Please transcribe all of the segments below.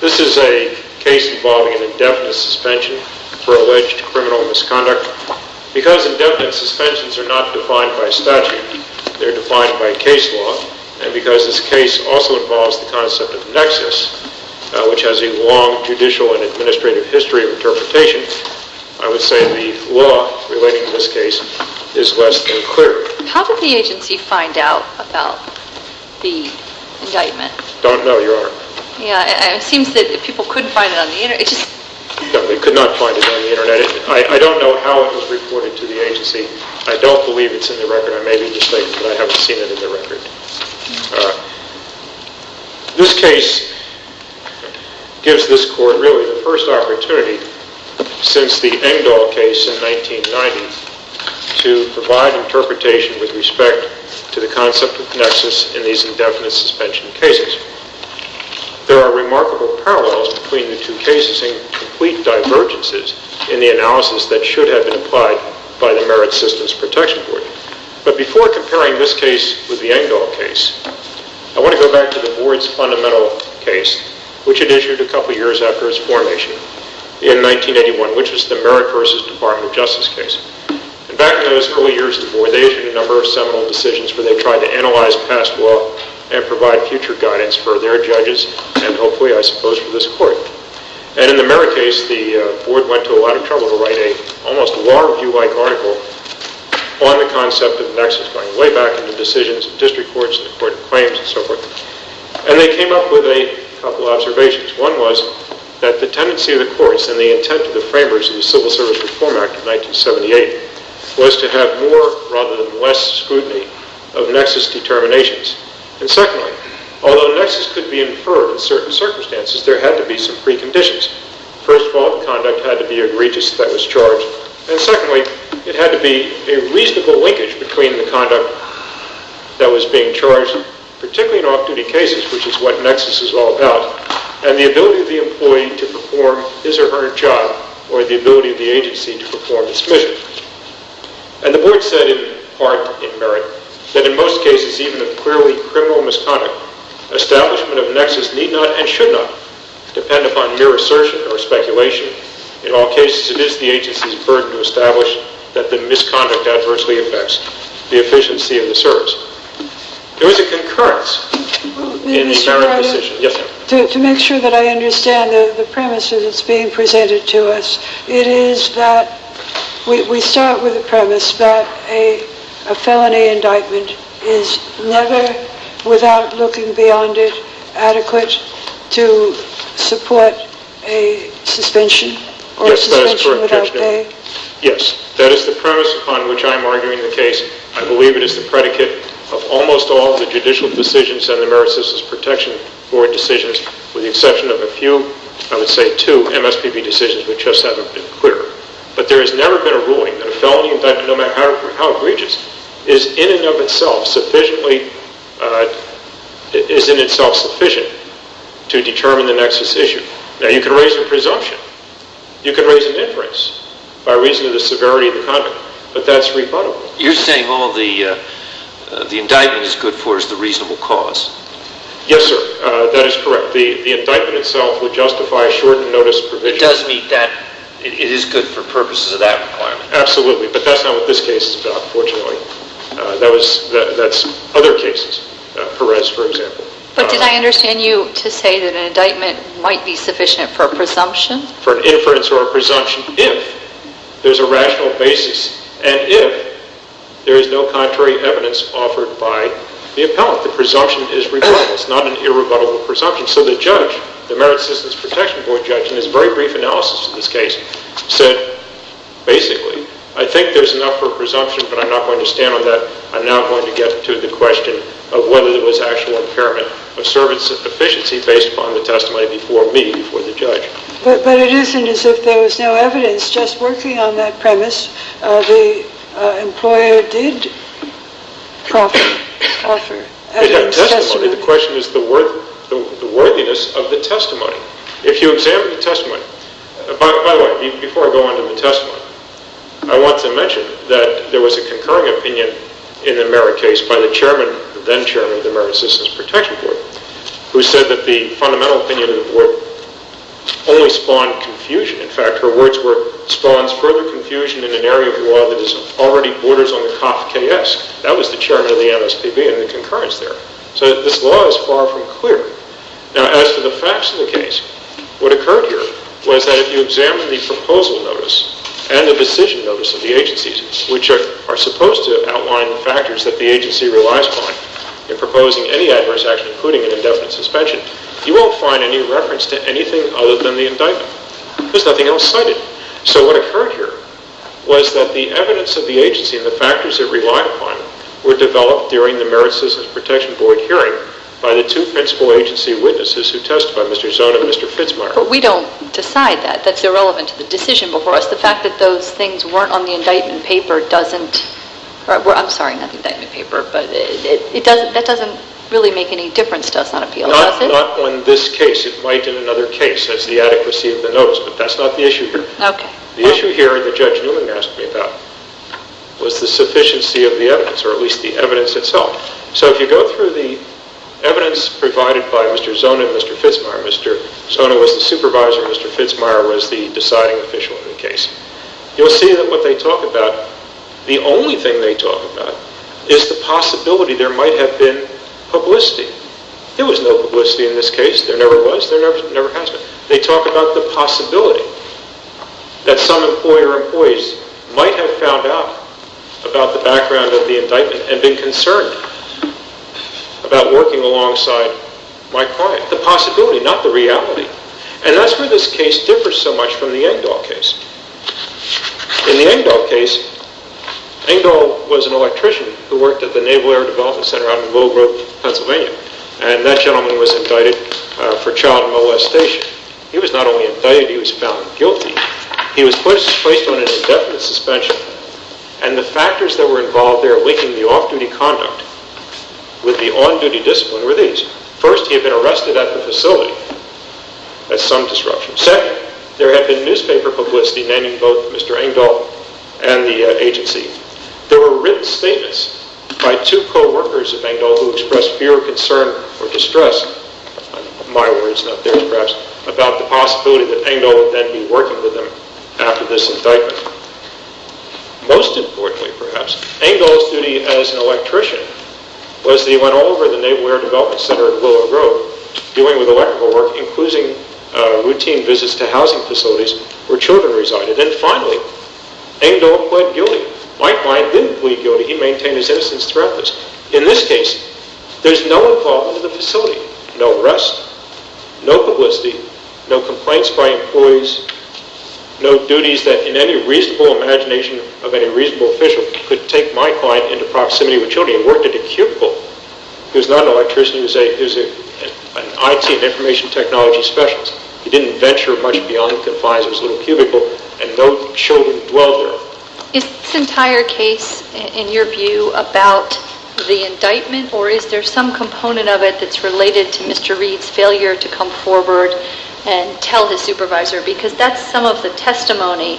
This is a case involving an indefinite suspension for alleged criminal misconduct. Because indefinite suspensions are not defined by statute, they are defined by case law. And because this case also involves the concept of nexus, which has a long judicial and administrative history, it is a case involving an indefinite suspension for alleged criminal misconduct. I would say the law relating to this case is less than clear. How did the agency find out about the indictment? I don't know, Your Honor. It seems that people could find it on the Internet. No, we could not find it on the Internet. I don't know how it was reported to the agency. I don't believe it's in the record. I may be mistaken, but I haven't seen it in the record. This case gives this Court really the first opportunity since the Engdahl case in 1990 to provide interpretation with respect to the concept of nexus in these indefinite suspension cases. There are remarkable parallels between the two cases and complete divergences in the analysis that should have been applied by the Merit Systems Protection Board. But before comparing this case with the Engdahl case, I want to go back to the Board's fundamental case, which it issued a couple years after its formation in 1981, which was the Merit v. Department of Justice case. And back in those early years of the Board, they issued a number of seminal decisions where they tried to analyze past law and provide future guidance for their judges and hopefully, I suppose, for this Court. And in the Merit case, the Board went to a lot of trouble to write an almost law-review-like article on the concept of the nexus going way back in the decisions of district courts and the Court of Claims and so forth. And they came up with a couple observations. One was that the tendency of the courts and the intent of the framers of the Civil Service Reform Act of 1978 was to have more rather than less scrutiny of nexus determinations. And secondly, although the nexus could be inferred in certain circumstances, there had to be some preconditions. First of all, conduct had to be egregious that was charged. And secondly, it had to be a reasonable linkage between the conduct that was being charged, particularly in off-duty cases, which is what nexus is all about, and the ability of the employee to perform his or her job or the ability of the agency to perform its mission. And the Board said, in part, in Merit, that in most cases, even if clearly criminal misconduct, establishment of a nexus need not and should not depend upon mere assertion or speculation. In all cases, it is the agency's burden to establish that the misconduct adversely affects the efficiency of the service. There was a concurrence in the Merit decision. To make sure that I understand the premise that's being presented to us, it is that we start with the premise that a felony indictment is never, without looking beyond it, adequate to support a suspension or a suspension without pay? Yes, that is the premise on which I am arguing the case. I believe it is the predicate of almost all the judicial decisions and the Merit Citizens Protection Board decisions, with the exception of a few, I would say two, MSPB decisions which just haven't been cleared. But there has never been a ruling that a felony indictment, no matter how egregious, is in and of itself sufficient to determine the nexus issue. Now, you can raise a presumption, you can raise a difference by reason of the severity of the conduct, but that's rebuttable. You're saying all the indictment is good for is the reasonable cause? Yes, sir, that is correct. The indictment itself would justify a shortened notice provision. It does meet that, it is good for purposes of that requirement. Absolutely, but that's not what this case is about, fortunately. That's other cases, Perez, for example. But did I understand you to say that an indictment might be sufficient for a presumption? For an inference or a presumption if there's a rational basis and if there is no contrary evidence offered by the appellant. The presumption is rebuttable, it's not an irrebuttable presumption. So the judge, the Merit Citizens Protection Board judge, in his very brief analysis of this case, said basically, I think there's enough for a presumption, but I'm not going to stand on that. I'm now going to get to the question of whether there was actual impairment of service efficiency based upon the testimony before me, before the judge. But it isn't as if there was no evidence. Just working on that premise, the employer did offer evidence. It had testimony. The question is the worthiness of the testimony. If you examine the testimony, by the way, before I go on to the testimony, I want to mention that there was a concurring opinion in the Merit case by the chairman, the then chairman of the Merit Citizens Protection Board, who said that the fundamental opinion of the board only spawned confusion. In fact, her words were, spawns further confusion in an area of law that is already borders on the COFKS. That was the chairman of the MSPB and the concurrence there. So this law is far from clear. Now, as for the facts of the case, what occurred here was that if you examine the proposal notice and the decision notice of the agencies, which are supposed to outline the factors that the agency relies upon in proposing any adverse action, including an indefinite suspension, you won't find any reference to anything other than the indictment. There's nothing else cited. So what occurred here was that the evidence of the agency and the factors it relied upon were developed during the Merit Citizens Protection Board hearing by the two principal agency witnesses who testified, Mr. Zone and Mr. Fitzmeyer. But we don't decide that. That's irrelevant to the decision before us. The fact that those things weren't on the indictment paper doesn't, I'm sorry, not the indictment paper, but that doesn't really make any difference to us on appeal, does it? Not on this case. It might in another case. That's the adequacy of the notice. But that's not the issue here. Okay. The issue here that Judge Newman asked me about was the sufficiency of the evidence, or at least the evidence itself. So if you go through the evidence provided by Mr. Zone and Mr. Fitzmeyer, Mr. Zone was the supervisor, Mr. Fitzmeyer was the deciding official in the case, you'll see that what they talk about, the only thing they talk about is the possibility there might have been publicity. There was no publicity in this case. There never was. There never has been. They talk about the possibility that some employer or employees might have found out about the background of the indictment and been concerned about working alongside my client. The possibility, not the reality. And that's where this case differs so much from the Engdahl case. In the Engdahl case, Engdahl was an electrician who worked at the Naval Air Development Center around Mill Grove, Pennsylvania. And that gentleman was indicted for child molestation. He was not only indicted, he was found guilty. He was placed on an indefinite suspension. And the factors that were involved there linking the off-duty conduct with the on-duty discipline were these. First, he had been arrested at the facility as some disruption. Second, there had been newspaper publicity naming both Mr. Engdahl and the agency. There were written statements by two co-workers of Engdahl who expressed fear, concern, or distress, my words, not theirs perhaps, about the possibility that Engdahl would then be working with them after this indictment. Most importantly, perhaps, Engdahl's duty as an electrician was that he went all over the Naval Air Development Center at Willow Grove dealing with electrical work, including routine visits to housing facilities where children resided. And then finally, Engdahl pled guilty. My client didn't plead guilty. He maintained his innocence throughout this. In this case, there's no involvement in the facility. No arrest, no publicity, no complaints by employees, no duties that in any reasonable imagination of any reasonable official could take my client into proximity with children. He worked at a cubicle. He was not an electrician. He was an IT, an information technology specialist. He didn't venture much beyond the advisor's little cubicle, and no children dwelled there. Is this entire case, in your view, about the indictment, or is there some component of it that's related to Mr. Reed's failure to come forward and tell his supervisor? Because that's some of the testimony.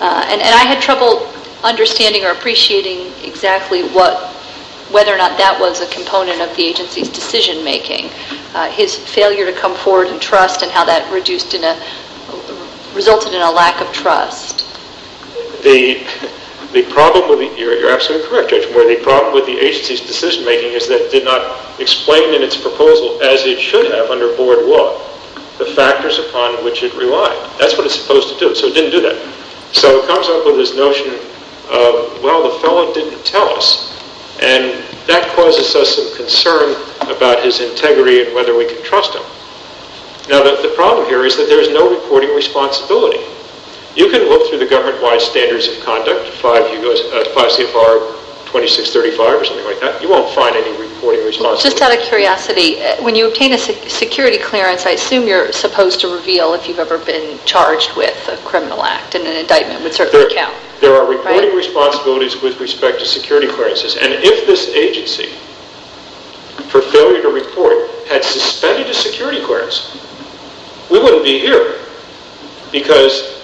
And I had trouble understanding or appreciating exactly whether or not that was a component of the agency's decision-making, his failure to come forward and trust and how that resulted in a lack of trust. You're absolutely correct, Judge. The problem with the agency's decision-making is that it did not explain in its proposal, as it should have under board law, the factors upon which it relied. That's what it's supposed to do, so it didn't do that. So it comes up with this notion of, well, the felon didn't tell us, and that causes us some concern about his integrity and whether we can trust him. Now, the problem here is that there is no reporting responsibility. You can look through the government-wide standards of conduct, 5 CFR 2635 or something like that. You won't find any reporting responsibility. Just out of curiosity, when you obtain a security clearance, I assume you're supposed to reveal if you've ever been charged with a criminal act, and an indictment would certainly count, right? There are reporting responsibilities with respect to security clearances, and if this agency, for failure to report, had suspended a security clearance, we wouldn't be here because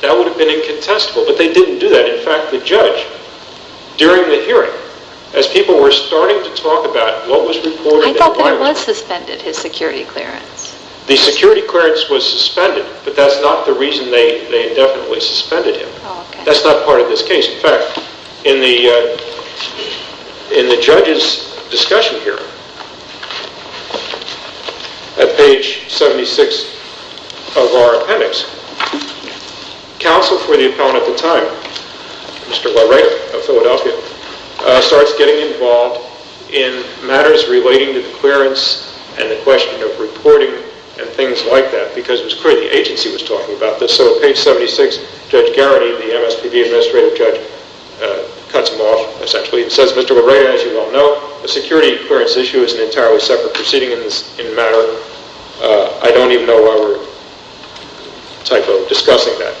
that would have been incontestable. But they didn't do that. In fact, the judge, during the hearing, as people were starting to talk about what was reported, I thought that it was suspended, his security clearance. The security clearance was suspended, but that's not the reason they indefinitely suspended him. That's not part of this case. In fact, in the judge's discussion here, at page 76 of our appendix, counsel for the appellant at the time, Mr. LaRey of Philadelphia, starts getting involved in matters relating to the clearance and the question of reporting and things like that, because it was clear the agency was talking about this. So at page 76, Judge Garrity, the MSPB administrative judge, cuts him off, essentially, and says, Mr. LaRey, as you well know, the security clearance issue is an entirely separate proceeding in matter. I don't even know why we're discussing that.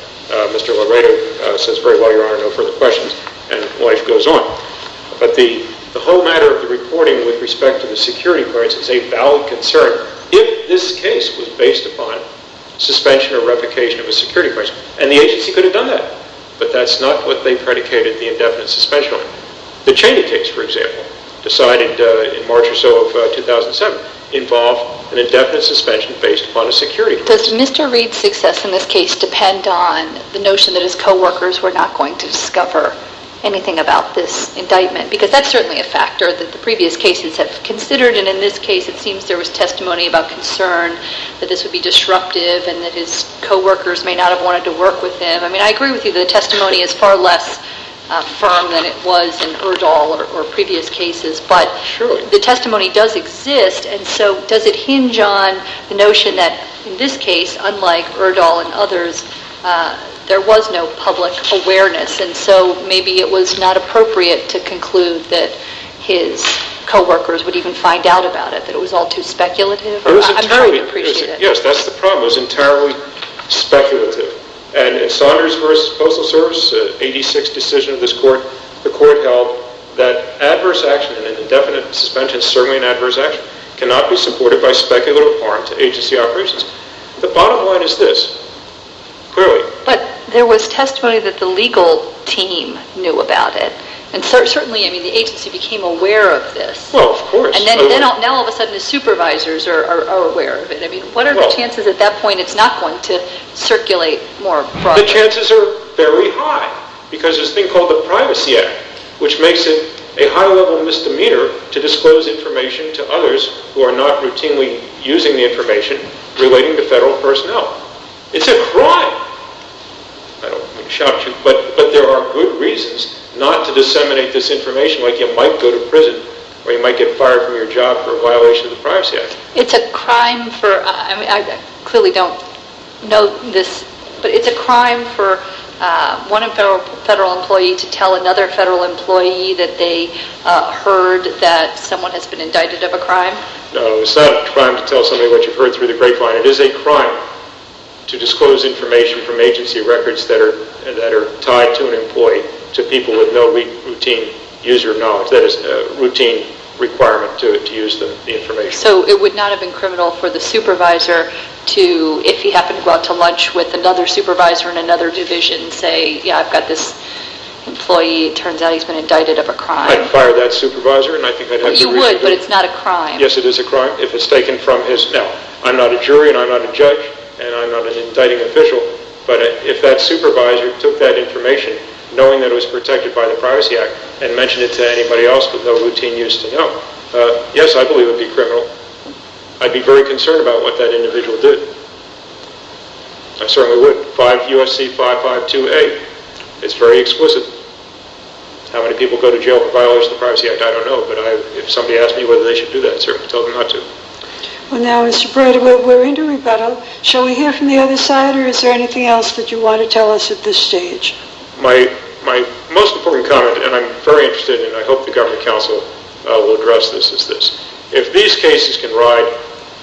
Mr. LaRey says, very well, Your Honor, no further questions. And life goes on. But the whole matter of the reporting with respect to the security clearance is a valid concern. If this case was based upon suspension or replication of a security clearance, and the agency could have done that, but that's not what they predicated the indefinite suspension on. The Cheney case, for example, decided in March or so of 2007, involved an indefinite suspension based upon a security clearance. Does Mr. Reed's success in this case depend on the notion that his coworkers were not going to discover anything about this indictment? Because that's certainly a factor that the previous cases have considered, and in this case it seems there was testimony about concern that this would be disruptive and that his coworkers may not have wanted to work with him. I mean, I agree with you that the testimony is far less firm than it was in Erdahl or previous cases. But the testimony does exist, and so does it hinge on the notion that in this case, unlike Erdahl and others, there was no public awareness, and so maybe it was not appropriate to conclude that his coworkers would even find out about it, that it was all too speculative? I'm very appreciative. Yes, that's the problem. It was entirely speculative. And in Saunders v. Postal Service, the 86th decision of this court, the court held that adverse action in an indefinite suspension, certainly an adverse action, cannot be supported by speculative or agency operations. The bottom line is this, clearly. But there was testimony that the legal team knew about it, and certainly the agency became aware of this. Well, of course. And now all of a sudden the supervisors are aware of it. I mean, what are the chances at that point it's not going to circulate more broadly? The chances are very high, because there's a thing called the Privacy Act, which makes it a high-level misdemeanor to disclose information to others who are not routinely using the information relating to federal personnel. It's a crime. I don't want to shock you, but there are good reasons not to disseminate this information, like you might go to prison, or you might get fired from your job for a violation of the Privacy Act. It's a crime for, I mean, I clearly don't know this, but it's a crime for one federal employee to tell another federal employee that they heard that someone has been indicted of a crime? No, it's not a crime to tell somebody what you've heard through the grapevine. It is a crime to disclose information from agency records that are tied to an employee to people with no routine user knowledge. That is a routine requirement to use the information. So it would not have been criminal for the supervisor to, if he happened to go out to lunch with another supervisor in another division, say, yeah, I've got this employee, it turns out he's been indicted of a crime. I'd fire that supervisor, and I think I'd have the reason to. You would, but it's not a crime. Yes, it is a crime. Now, I'm not a jury, and I'm not a judge, and I'm not an indicting official, but if that supervisor took that information, knowing that it was protected by the Privacy Act, and mentioned it to anybody else with no routine use to know, yes, I believe it would be criminal. I'd be very concerned about what that individual did. I certainly would. 5 U.S.C. 5528. It's very exquisite. How many people go to jail for violations of the Privacy Act, I don't know, but if somebody asks me whether they should do that, sir, tell them not to. Well, now, Mr. Breda, we're into rebuttal. Shall we hear from the other side, or is there anything else that you want to tell us at this stage? My most important comment, and I'm very interested in it, and I hope the government counsel will address this, is this. If these cases can ride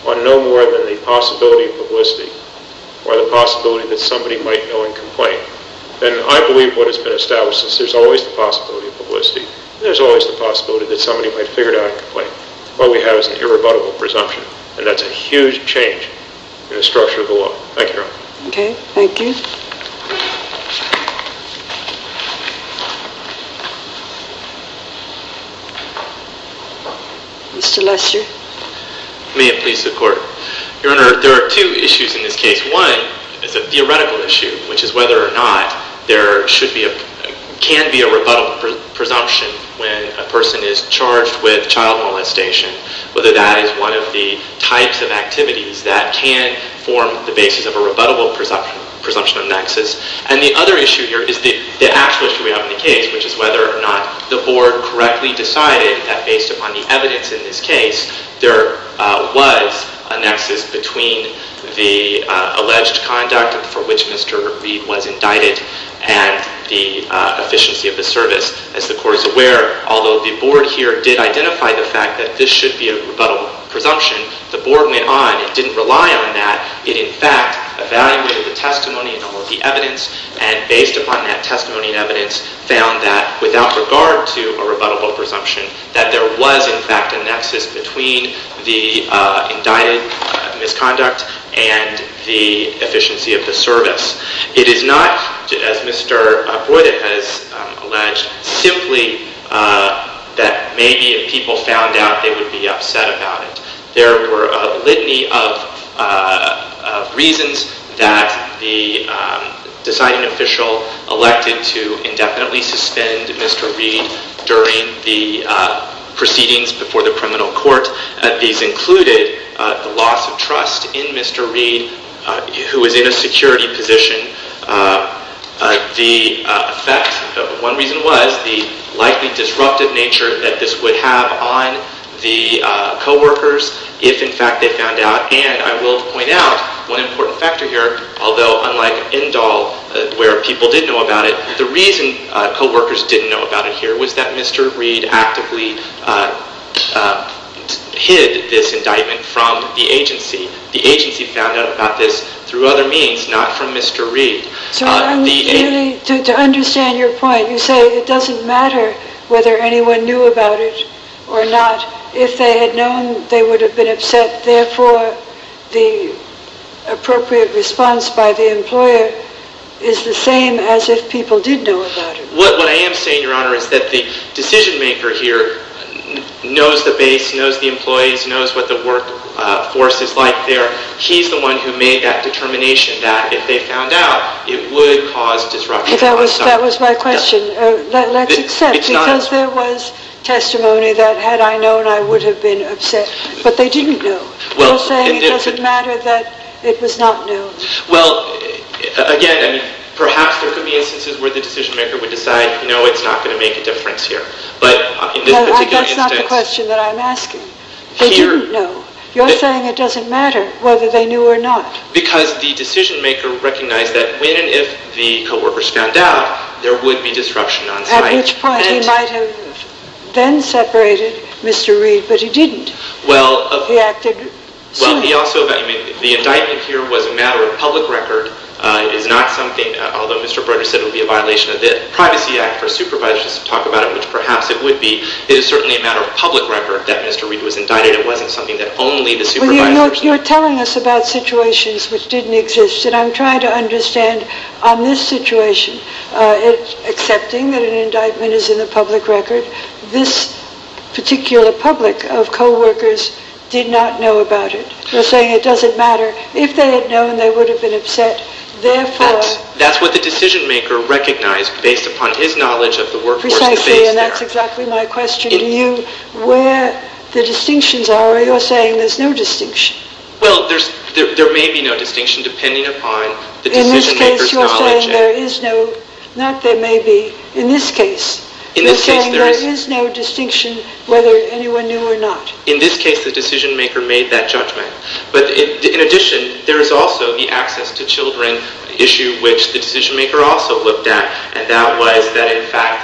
on no more than the possibility of publicity, or the possibility that somebody might know and complain, then I believe what has been established is there's always the possibility of publicity. There's always the possibility that somebody might figure it out and complain. What we have is an irrebuttable presumption, and that's a huge change in the structure of the law. Thank you, Your Honor. Okay. Thank you. Mr. Lester. May it please the Court. Your Honor, there are two issues in this case. One is a theoretical issue, which is whether or not there can be a rebuttal presumption when a person is charged with child molestation, whether that is one of the types of activities that can form the basis of a rebuttable presumption of nexus. And the other issue here is the actual issue we have in the case, which is whether or not the Board correctly decided that based upon the evidence in this case, there was a nexus between the alleged conduct for which Mr. Reed was indicted and the efficiency of the service. As the Court is aware, although the Board here did identify the fact that this should be a rebuttable presumption, the Board went on and didn't rely on that. It, in fact, evaluated the testimony and all of the evidence, and based upon that testimony and evidence, found that without regard to a rebuttable presumption, that there was, in fact, a nexus between the indicted misconduct and the efficiency of the service. It is not, as Mr. Broide has alleged, simply that maybe if people found out, they would be upset about it. There were a litany of reasons that the deciding official elected to indefinitely suspend Mr. Reed during the proceedings before the criminal court. These included the loss of trust in Mr. Reed, who was in a security position. The effect, one reason was the likely disruptive nature that this would have on the coworkers if, in fact, they found out. And I will point out one important factor here, although unlike Indall, where people did know about it, the reason coworkers didn't know about it here was that Mr. Reed actively hid this indictment from the agency. The agency found out about this through other means, not from Mr. Reed. To understand your point, you say it doesn't matter whether anyone knew about it or not. If they had known, they would have been upset. Therefore, the appropriate response by the employer is the same as if people did know about it. What I am saying, Your Honor, is that the decision-maker here knows the base, knows the employees, knows what the workforce is like there. He's the one who made that determination that if they found out, it would cause disruption. That was my question. Let's accept, because there was testimony that, had I known, I would have been upset. But they didn't know. You're saying it doesn't matter that it was not known. Well, again, perhaps there could be instances where the decision-maker would decide, no, it's not going to make a difference here. No, that's not the question that I'm asking. They didn't know. You're saying it doesn't matter whether they knew or not. Because the decision-maker recognized that when and if the coworkers found out, there would be disruption on site. At which point, he might have then separated Mr. Reed, but he didn't. Well, he also, the indictment here was a matter of public record. It is not something, although Mr. Broder said it would be a violation of the Privacy Act for supervisors to talk about it, which perhaps it would be. It is certainly a matter of public record that Mr. Reed was indicted. It wasn't something that only the supervisor. Well, you're telling us about situations which didn't exist. And I'm trying to understand on this situation, accepting that an indictment is in the public record, this particular public of coworkers did not know about it. You're saying it doesn't matter. If they had known, they would have been upset. That's what the decision-maker recognized based upon his knowledge of the workforce. Precisely, and that's exactly my question to you. Where the distinctions are, you're saying there's no distinction. Well, there may be no distinction, depending upon the decision-maker's knowledge. You're saying there is no distinction whether anyone knew or not. In this case, the decision-maker made that judgment. But in addition, there is also the access to children issue, which the decision-maker also looked at, and that was that, in fact,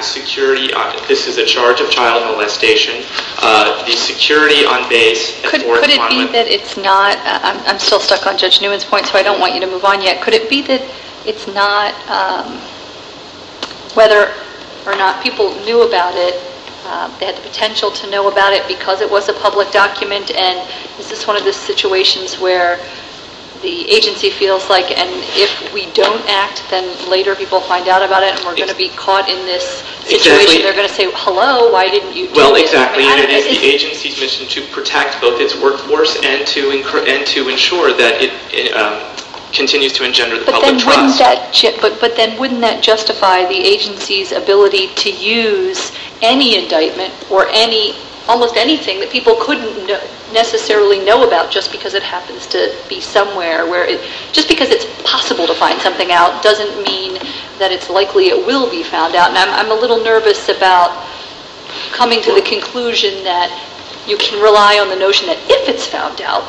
this is a charge of child molestation. The security on base... Could it be that it's not? I'm still stuck on Judge Newman's point, so I don't want you to move on yet. Could it be that it's not? Whether or not people knew about it, they had the potential to know about it because it was a public document, and this is one of the situations where the agency feels like, and if we don't act, then later people will find out about it and we're going to be caught in this situation. They're going to say, hello, why didn't you do it? Well, exactly, and it is the agency's mission to protect both its workforce and to ensure that it continues to engender the public trust. But then wouldn't that justify the agency's ability to use any indictment or almost anything that people couldn't necessarily know about just because it happens to be somewhere? Just because it's possible to find something out doesn't mean that it's likely it will be found out, and I'm a little nervous about coming to the conclusion that you can rely on the notion that if it's found out,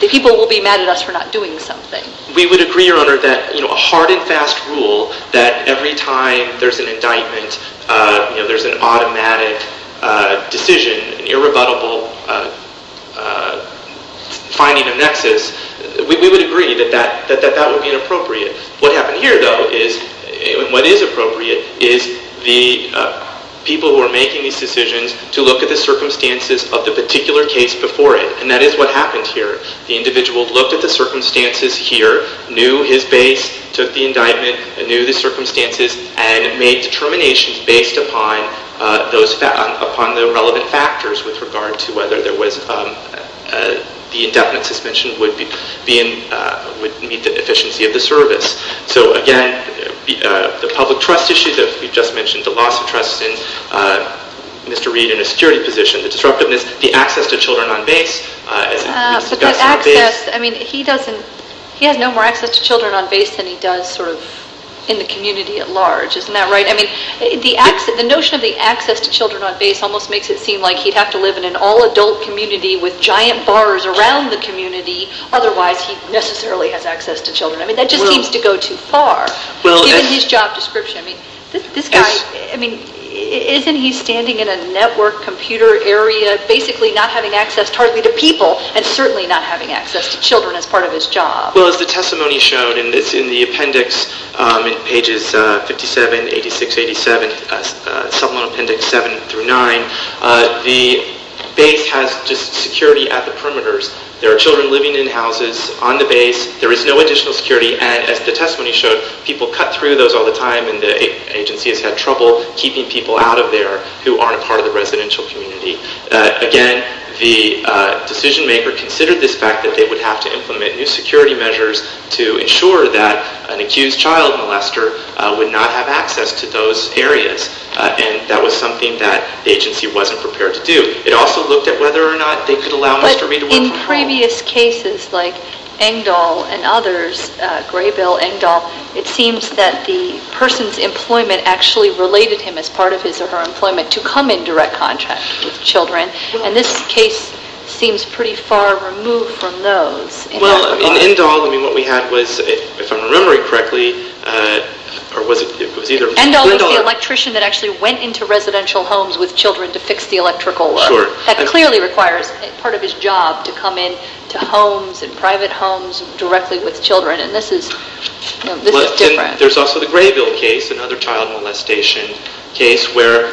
the people will be mad at us for not doing something. We would agree, Your Honor, that a hard and fast rule that every time there's an indictment, there's an automatic decision, an irrebuttable finding of nexus, we would agree that that would be inappropriate. What happened here, though, and what is appropriate, is the people who are making these decisions to look at the circumstances of the particular case before it, and that is what happened here. The individual looked at the circumstances here, knew his base, took the indictment, knew the circumstances, and made determinations based upon the relevant factors with regard to whether the indefinite suspension would meet the efficiency of the service. So again, the public trust issue that we just mentioned, the loss of trust in Mr. Reid in a security position, the disruptiveness, the access to children on base... But the access, I mean, he doesn't... He has no more access to children on base than he does sort of in the community at large, isn't that right? I mean, the notion of the access to children on base almost makes it seem like he'd have to live in an all-adult community with giant bars around the community, otherwise he necessarily has access to children. I mean, that just seems to go too far. Given his job description, I mean, this guy... I mean, isn't he standing in a network computer area, basically not having access partly to people and certainly not having access to children as part of his job? Well, as the testimony showed in the appendix in pages 57, 86, 87, supplemental appendix 7 through 9, the base has just security at the perimeters. There are children living in houses on the base. There is no additional security. And as the testimony showed, people cut through those all the time and the agency has had trouble keeping people out of there who aren't a part of the residential community. Again, the decision-maker considered this fact that they would have to implement new security measures to ensure that an accused child molester would not have access to those areas. And that was something that the agency wasn't prepared to do. It also looked at whether or not they could allow Mr. Reid... In previous cases like Engdahl and others, Graybill, Engdahl, it seems that the person's employment actually related him as part of his or her employment to come in direct contact with children. And this case seems pretty far removed from those. Well, in Engdahl, I mean, what we had was, if I'm remembering correctly, or was it... Engdahl was the electrician that actually went into residential homes with children to fix the electrical. Sure. That clearly requires part of his job to come in to homes and private homes directly with children. And this is different. There's also the Graybill case, another child molestation case, where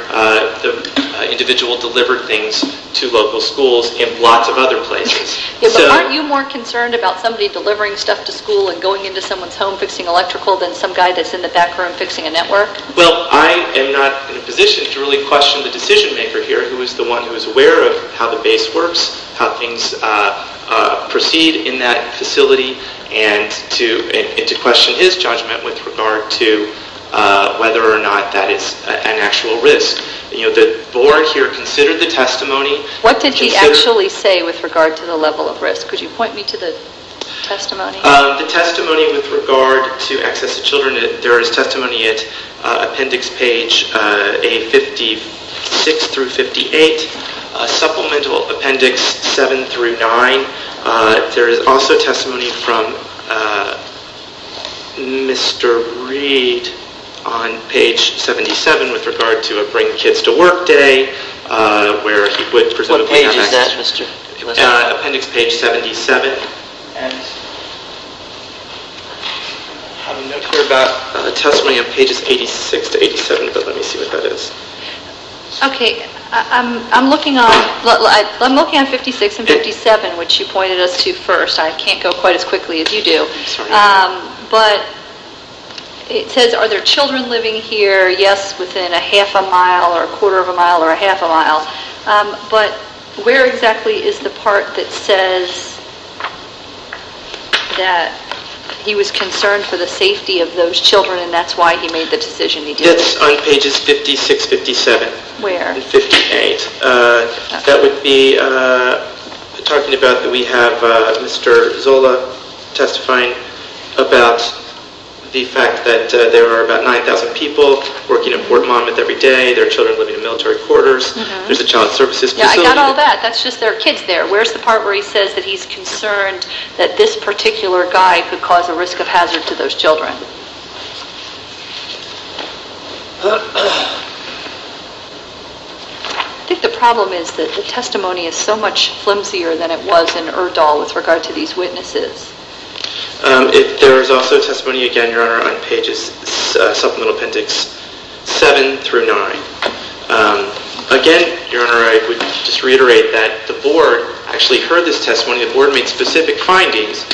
the individual delivered things to local schools and lots of other places. But aren't you more concerned about somebody delivering stuff to school and going into someone's home fixing electrical than some guy that's in the back room fixing a network? Well, I am not in a position to really question the decision-maker here who is the one who is aware of how the base works, how things proceed in that facility, and to question his judgment with regard to whether or not that is an actual risk. You know, the board here considered the testimony. What did he actually say with regard to the level of risk? Could you point me to the testimony? The testimony with regard to access to children, there is testimony at Appendix Page 56-58, Supplemental Appendix 7-9. There is also testimony from Mr. Reed on Page 77 with regard to a Bring Kids to Work Day where he would present a piece of text. What page is that, Mr. Lester? Appendix Page 77. And I have no clue about testimony on Pages 86-87, but let me see what that is. Okay. I'm looking on 56 and 57, which you pointed us to first. I can't go quite as quickly as you do. Sorry. But it says, Are there children living here? Yes, within a half a mile or a quarter of a mile or a half a mile. But where exactly is the part that says that he was concerned for the safety of those children and that's why he made the decision he did it? It's on Pages 56-57. Where? 58. That would be talking about that we have Mr. Zola testifying about the fact that there are about 9,000 people working at Port Monmouth every day. There are children living in military quarters. There's a child services facility. Yeah, I got all that. That's just there are kids there. Where's the part where he says that he's concerned that this particular guy could cause a risk of hazard to those children? I think the problem is that the testimony is so much flimsier than it was in Erdahl with regard to these witnesses. There is also testimony, again, Your Honor, on Pages 7-9. Again, Your Honor, I would just reiterate that the Board actually heard this testimony. The Board made specific findings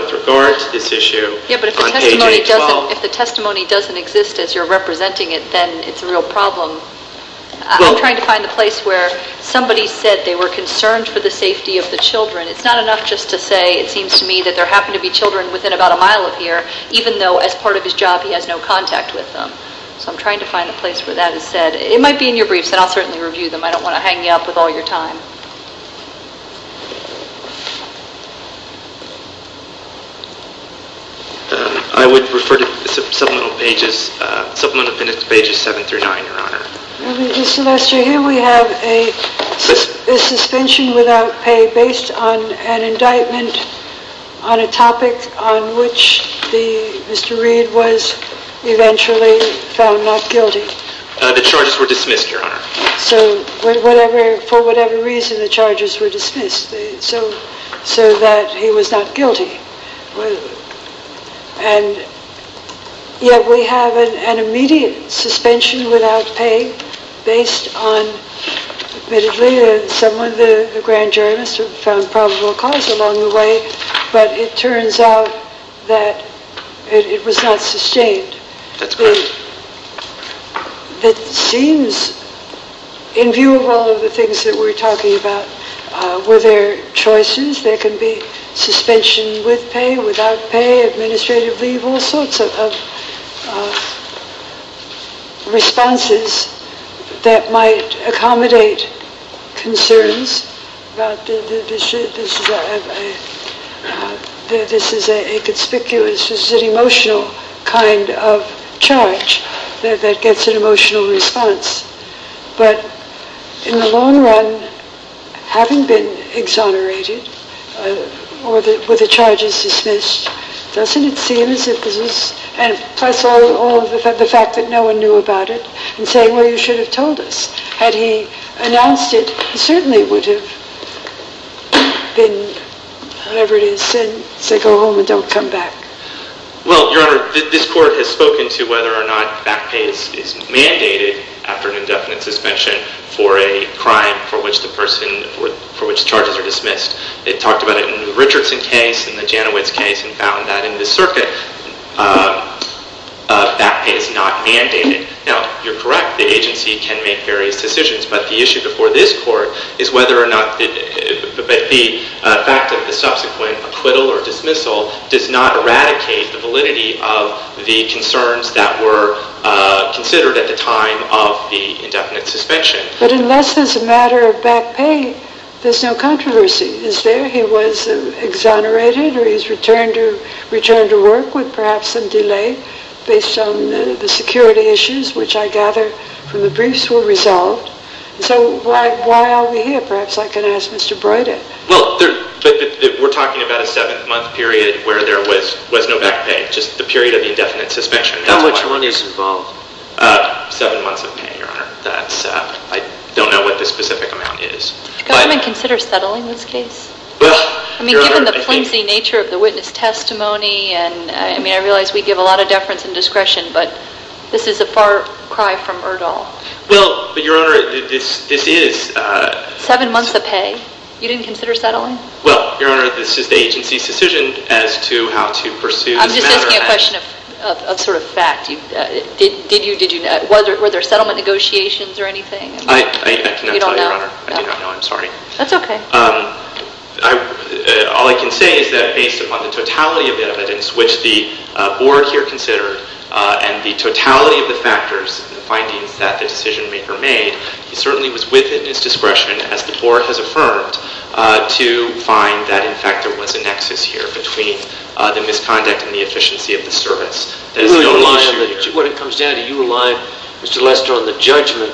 with regard to this issue on Page 8-12. Yeah, but if the testimony doesn't exist as you're representing it, then it's a real problem. I'm trying to find the place where somebody said they were concerned for the safety of the children. It's not enough just to say it seems to me that there happen to be children within about a mile of here even though as part of his job he has no contact with them. So I'm trying to find a place where that is said. It might be in your briefs, and I'll certainly review them. I don't want to hang you up with all your time. I would refer to Supplemental Pages 7-9, Your Honor. Mr. Lester, here we have a suspension without pay based on an indictment on a topic on which Mr. Reed was eventually found not guilty. The charges were dismissed, Your Honor. So for whatever reason, the charges were dismissed so that he was not guilty. And yet we have an immediate suspension without pay based on, admittedly, someone, the grand jury, must have found probable cause along the way, but it turns out that it was not sustained. That's correct. It seems, in view of all of the things that we're talking about, were there choices? There can be suspension with pay, without pay, administrative leave, There are all sorts of responses that might accommodate concerns. This is a conspicuous, this is an emotional kind of charge that gets an emotional response. But in the long run, having been exonerated, with the charges dismissed, doesn't it seem as if this was, plus all of the fact that no one knew about it, and saying, well, you should have told us. Had he announced it, he certainly would have been, whatever it is, said, go home and don't come back. Well, Your Honor, this court has spoken to whether or not back pay is mandated after an indefinite suspension for a crime for which the person, for which charges are dismissed. It talked about it in the Richardson case, in the Janowitz case, and found that in the circuit, back pay is not mandated. Now, you're correct, the agency can make various decisions, but the issue before this court is whether or not the fact of the subsequent acquittal or dismissal does not eradicate the validity of the concerns that were considered at the time of the indefinite suspension. But unless there's a matter of back pay, there's no controversy. Is there? He was exonerated or he's returned to work with perhaps some delay based on the security issues, which I gather from the briefs were resolved. So why are we here? Perhaps I can ask Mr. Broyden. Well, we're talking about a seven-month period where there was no back pay, just the period of the indefinite suspension. How much money is involved? Seven months of pay, Your Honor. I don't know what the specific amount is. Did the government consider settling this case? I mean, given the flimsy nature of the witness testimony, and I realize we give a lot of deference and discretion, but this is a far cry from Erdahl. Well, Your Honor, this is— Seven months of pay. You didn't consider settling? Well, Your Honor, this is the agency's decision as to how to pursue the matter at hand. I'm just asking a question of sort of fact. Were there settlement negotiations or anything? I cannot tell you, Your Honor. I do not know. I'm sorry. That's okay. All I can say is that based upon the totality of evidence, which the board here considered, and the totality of the factors and the findings that the decision-maker made, he certainly was within his discretion, as the board has affirmed, to find that, in fact, there was a nexus here between the misconduct and the efficiency of the service. You rely on—when it comes down to it, you rely, Mr. Lester, on the judgment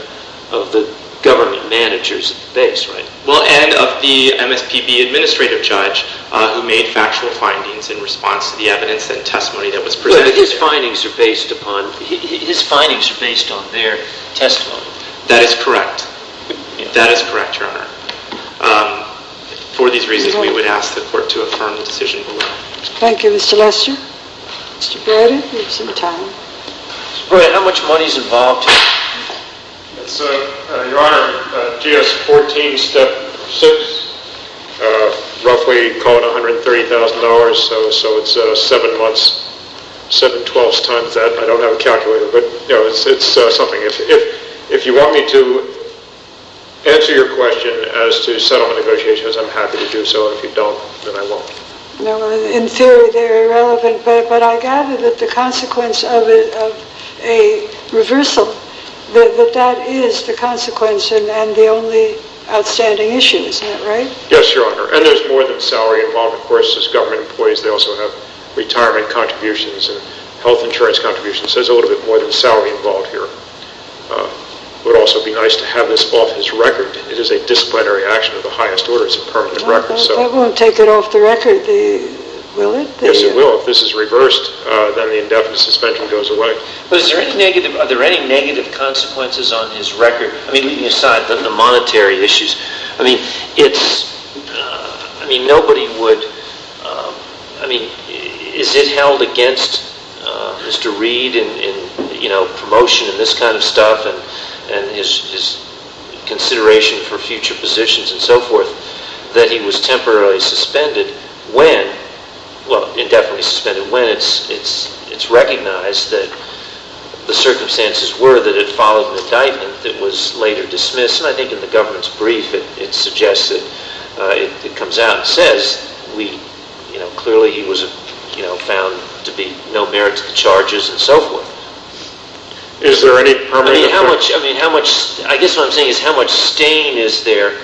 of the government managers at the base, right? Well, and of the MSPB administrative judge who made factual findings in response to the evidence and testimony that was presented. But his findings are based upon—his findings are based on their testimony. That is correct. That is correct, Your Honor. For these reasons, we would ask the court to affirm the decision below. Thank you, Mr. Lester. Mr. Braden, you have some time. Mr. Braden, how much money is involved here? Your Honor, GS 14, step 6, roughly, call it $130,000, so it's 7 months, 7 twelfths times that. I don't have a calculator, but, you know, it's something. If you want me to answer your question as to settlement negotiations, I'm happy to do so. If you don't, then I won't. No, in theory, they're irrelevant, but I gather that the consequence of a reversal, that that is the consequence and the only outstanding issue, isn't that right? Yes, Your Honor, and there's more than salary involved. Of course, as government employees, they also have retirement contributions and health insurance contributions, so there's a little bit more than salary involved here. It would also be nice to have this off his record. It is a disciplinary action of the highest order. It's a permanent record. That won't take it off the record, will it? Yes, it will. If this is reversed, then the indefinite suspension goes away. Are there any negative consequences on his record? I mean, aside from the monetary issues, I mean, nobody would, I mean, is it held against Mr. Reed in, you know, promotion and this kind of stuff and his consideration for future positions and so forth that he was temporarily suspended when, well, indefinitely suspended when it's recognized that the circumstances were that it followed an indictment that was later dismissed. And I think in the government's brief, it suggests that, it comes out and says we, you know, clearly he was, you know, found to be no merit to the charges and so forth. Is there any permanent... I mean, how much, I mean, how much, I guess what I'm saying is how much stain is there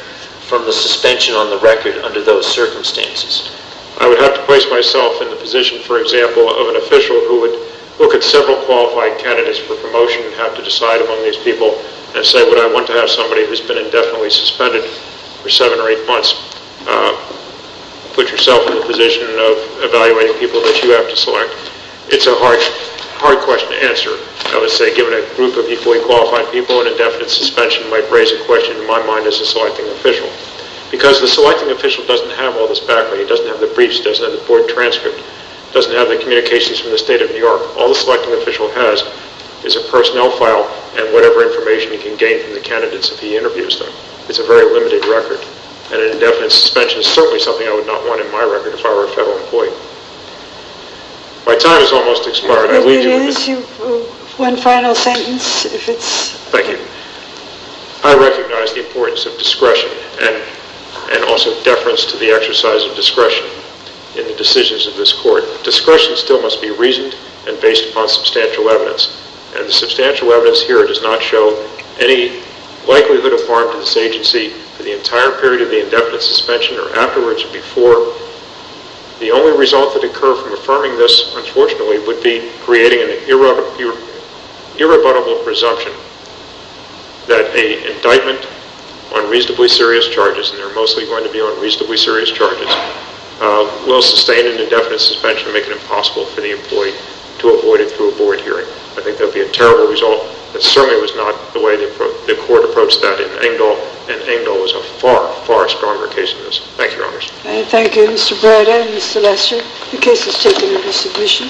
from the suspension on the record under those circumstances? I would have to place myself in the position, for example, of an official who would look at several qualified candidates for promotion and have to decide among these people and say would I want to have somebody who's been indefinitely suspended for seven or eight months It's a hard question to answer. I would say given a group of equally qualified people, an indefinite suspension might raise a question in my mind as a selecting official. Because the selecting official doesn't have all this background. He doesn't have the briefs. He doesn't have the board transcript. He doesn't have the communications from the state of New York. All the selecting official has is a personnel file and whatever information he can gain from the candidates if he interviews them. It's a very limited record. And an indefinite suspension is certainly something I would not want in my record if I were a federal employee. My time has almost expired. I leave you with this. One final sentence. Thank you. I recognize the importance of discretion and also deference to the exercise of discretion in the decisions of this court. Discretion still must be reasoned and based upon substantial evidence. And the substantial evidence here does not show any likelihood of harm to this agency for the entire period of the indefinite suspension or afterwards or before. The only result that occurred from affirming this, unfortunately, would be creating an irrebuttable presumption that an indictment on reasonably serious charges, and they're mostly going to be on reasonably serious charges, will sustain an indefinite suspension and make it impossible for the employee to avoid it through a board hearing. I think that would be a terrible result. That certainly was not the way the court approached that in Engdahl, and Engdahl was a far, far stronger case than this. Thank you, Your Honor. Thank you, Mr. Breda and Mr. Lester. The case is taken into submission.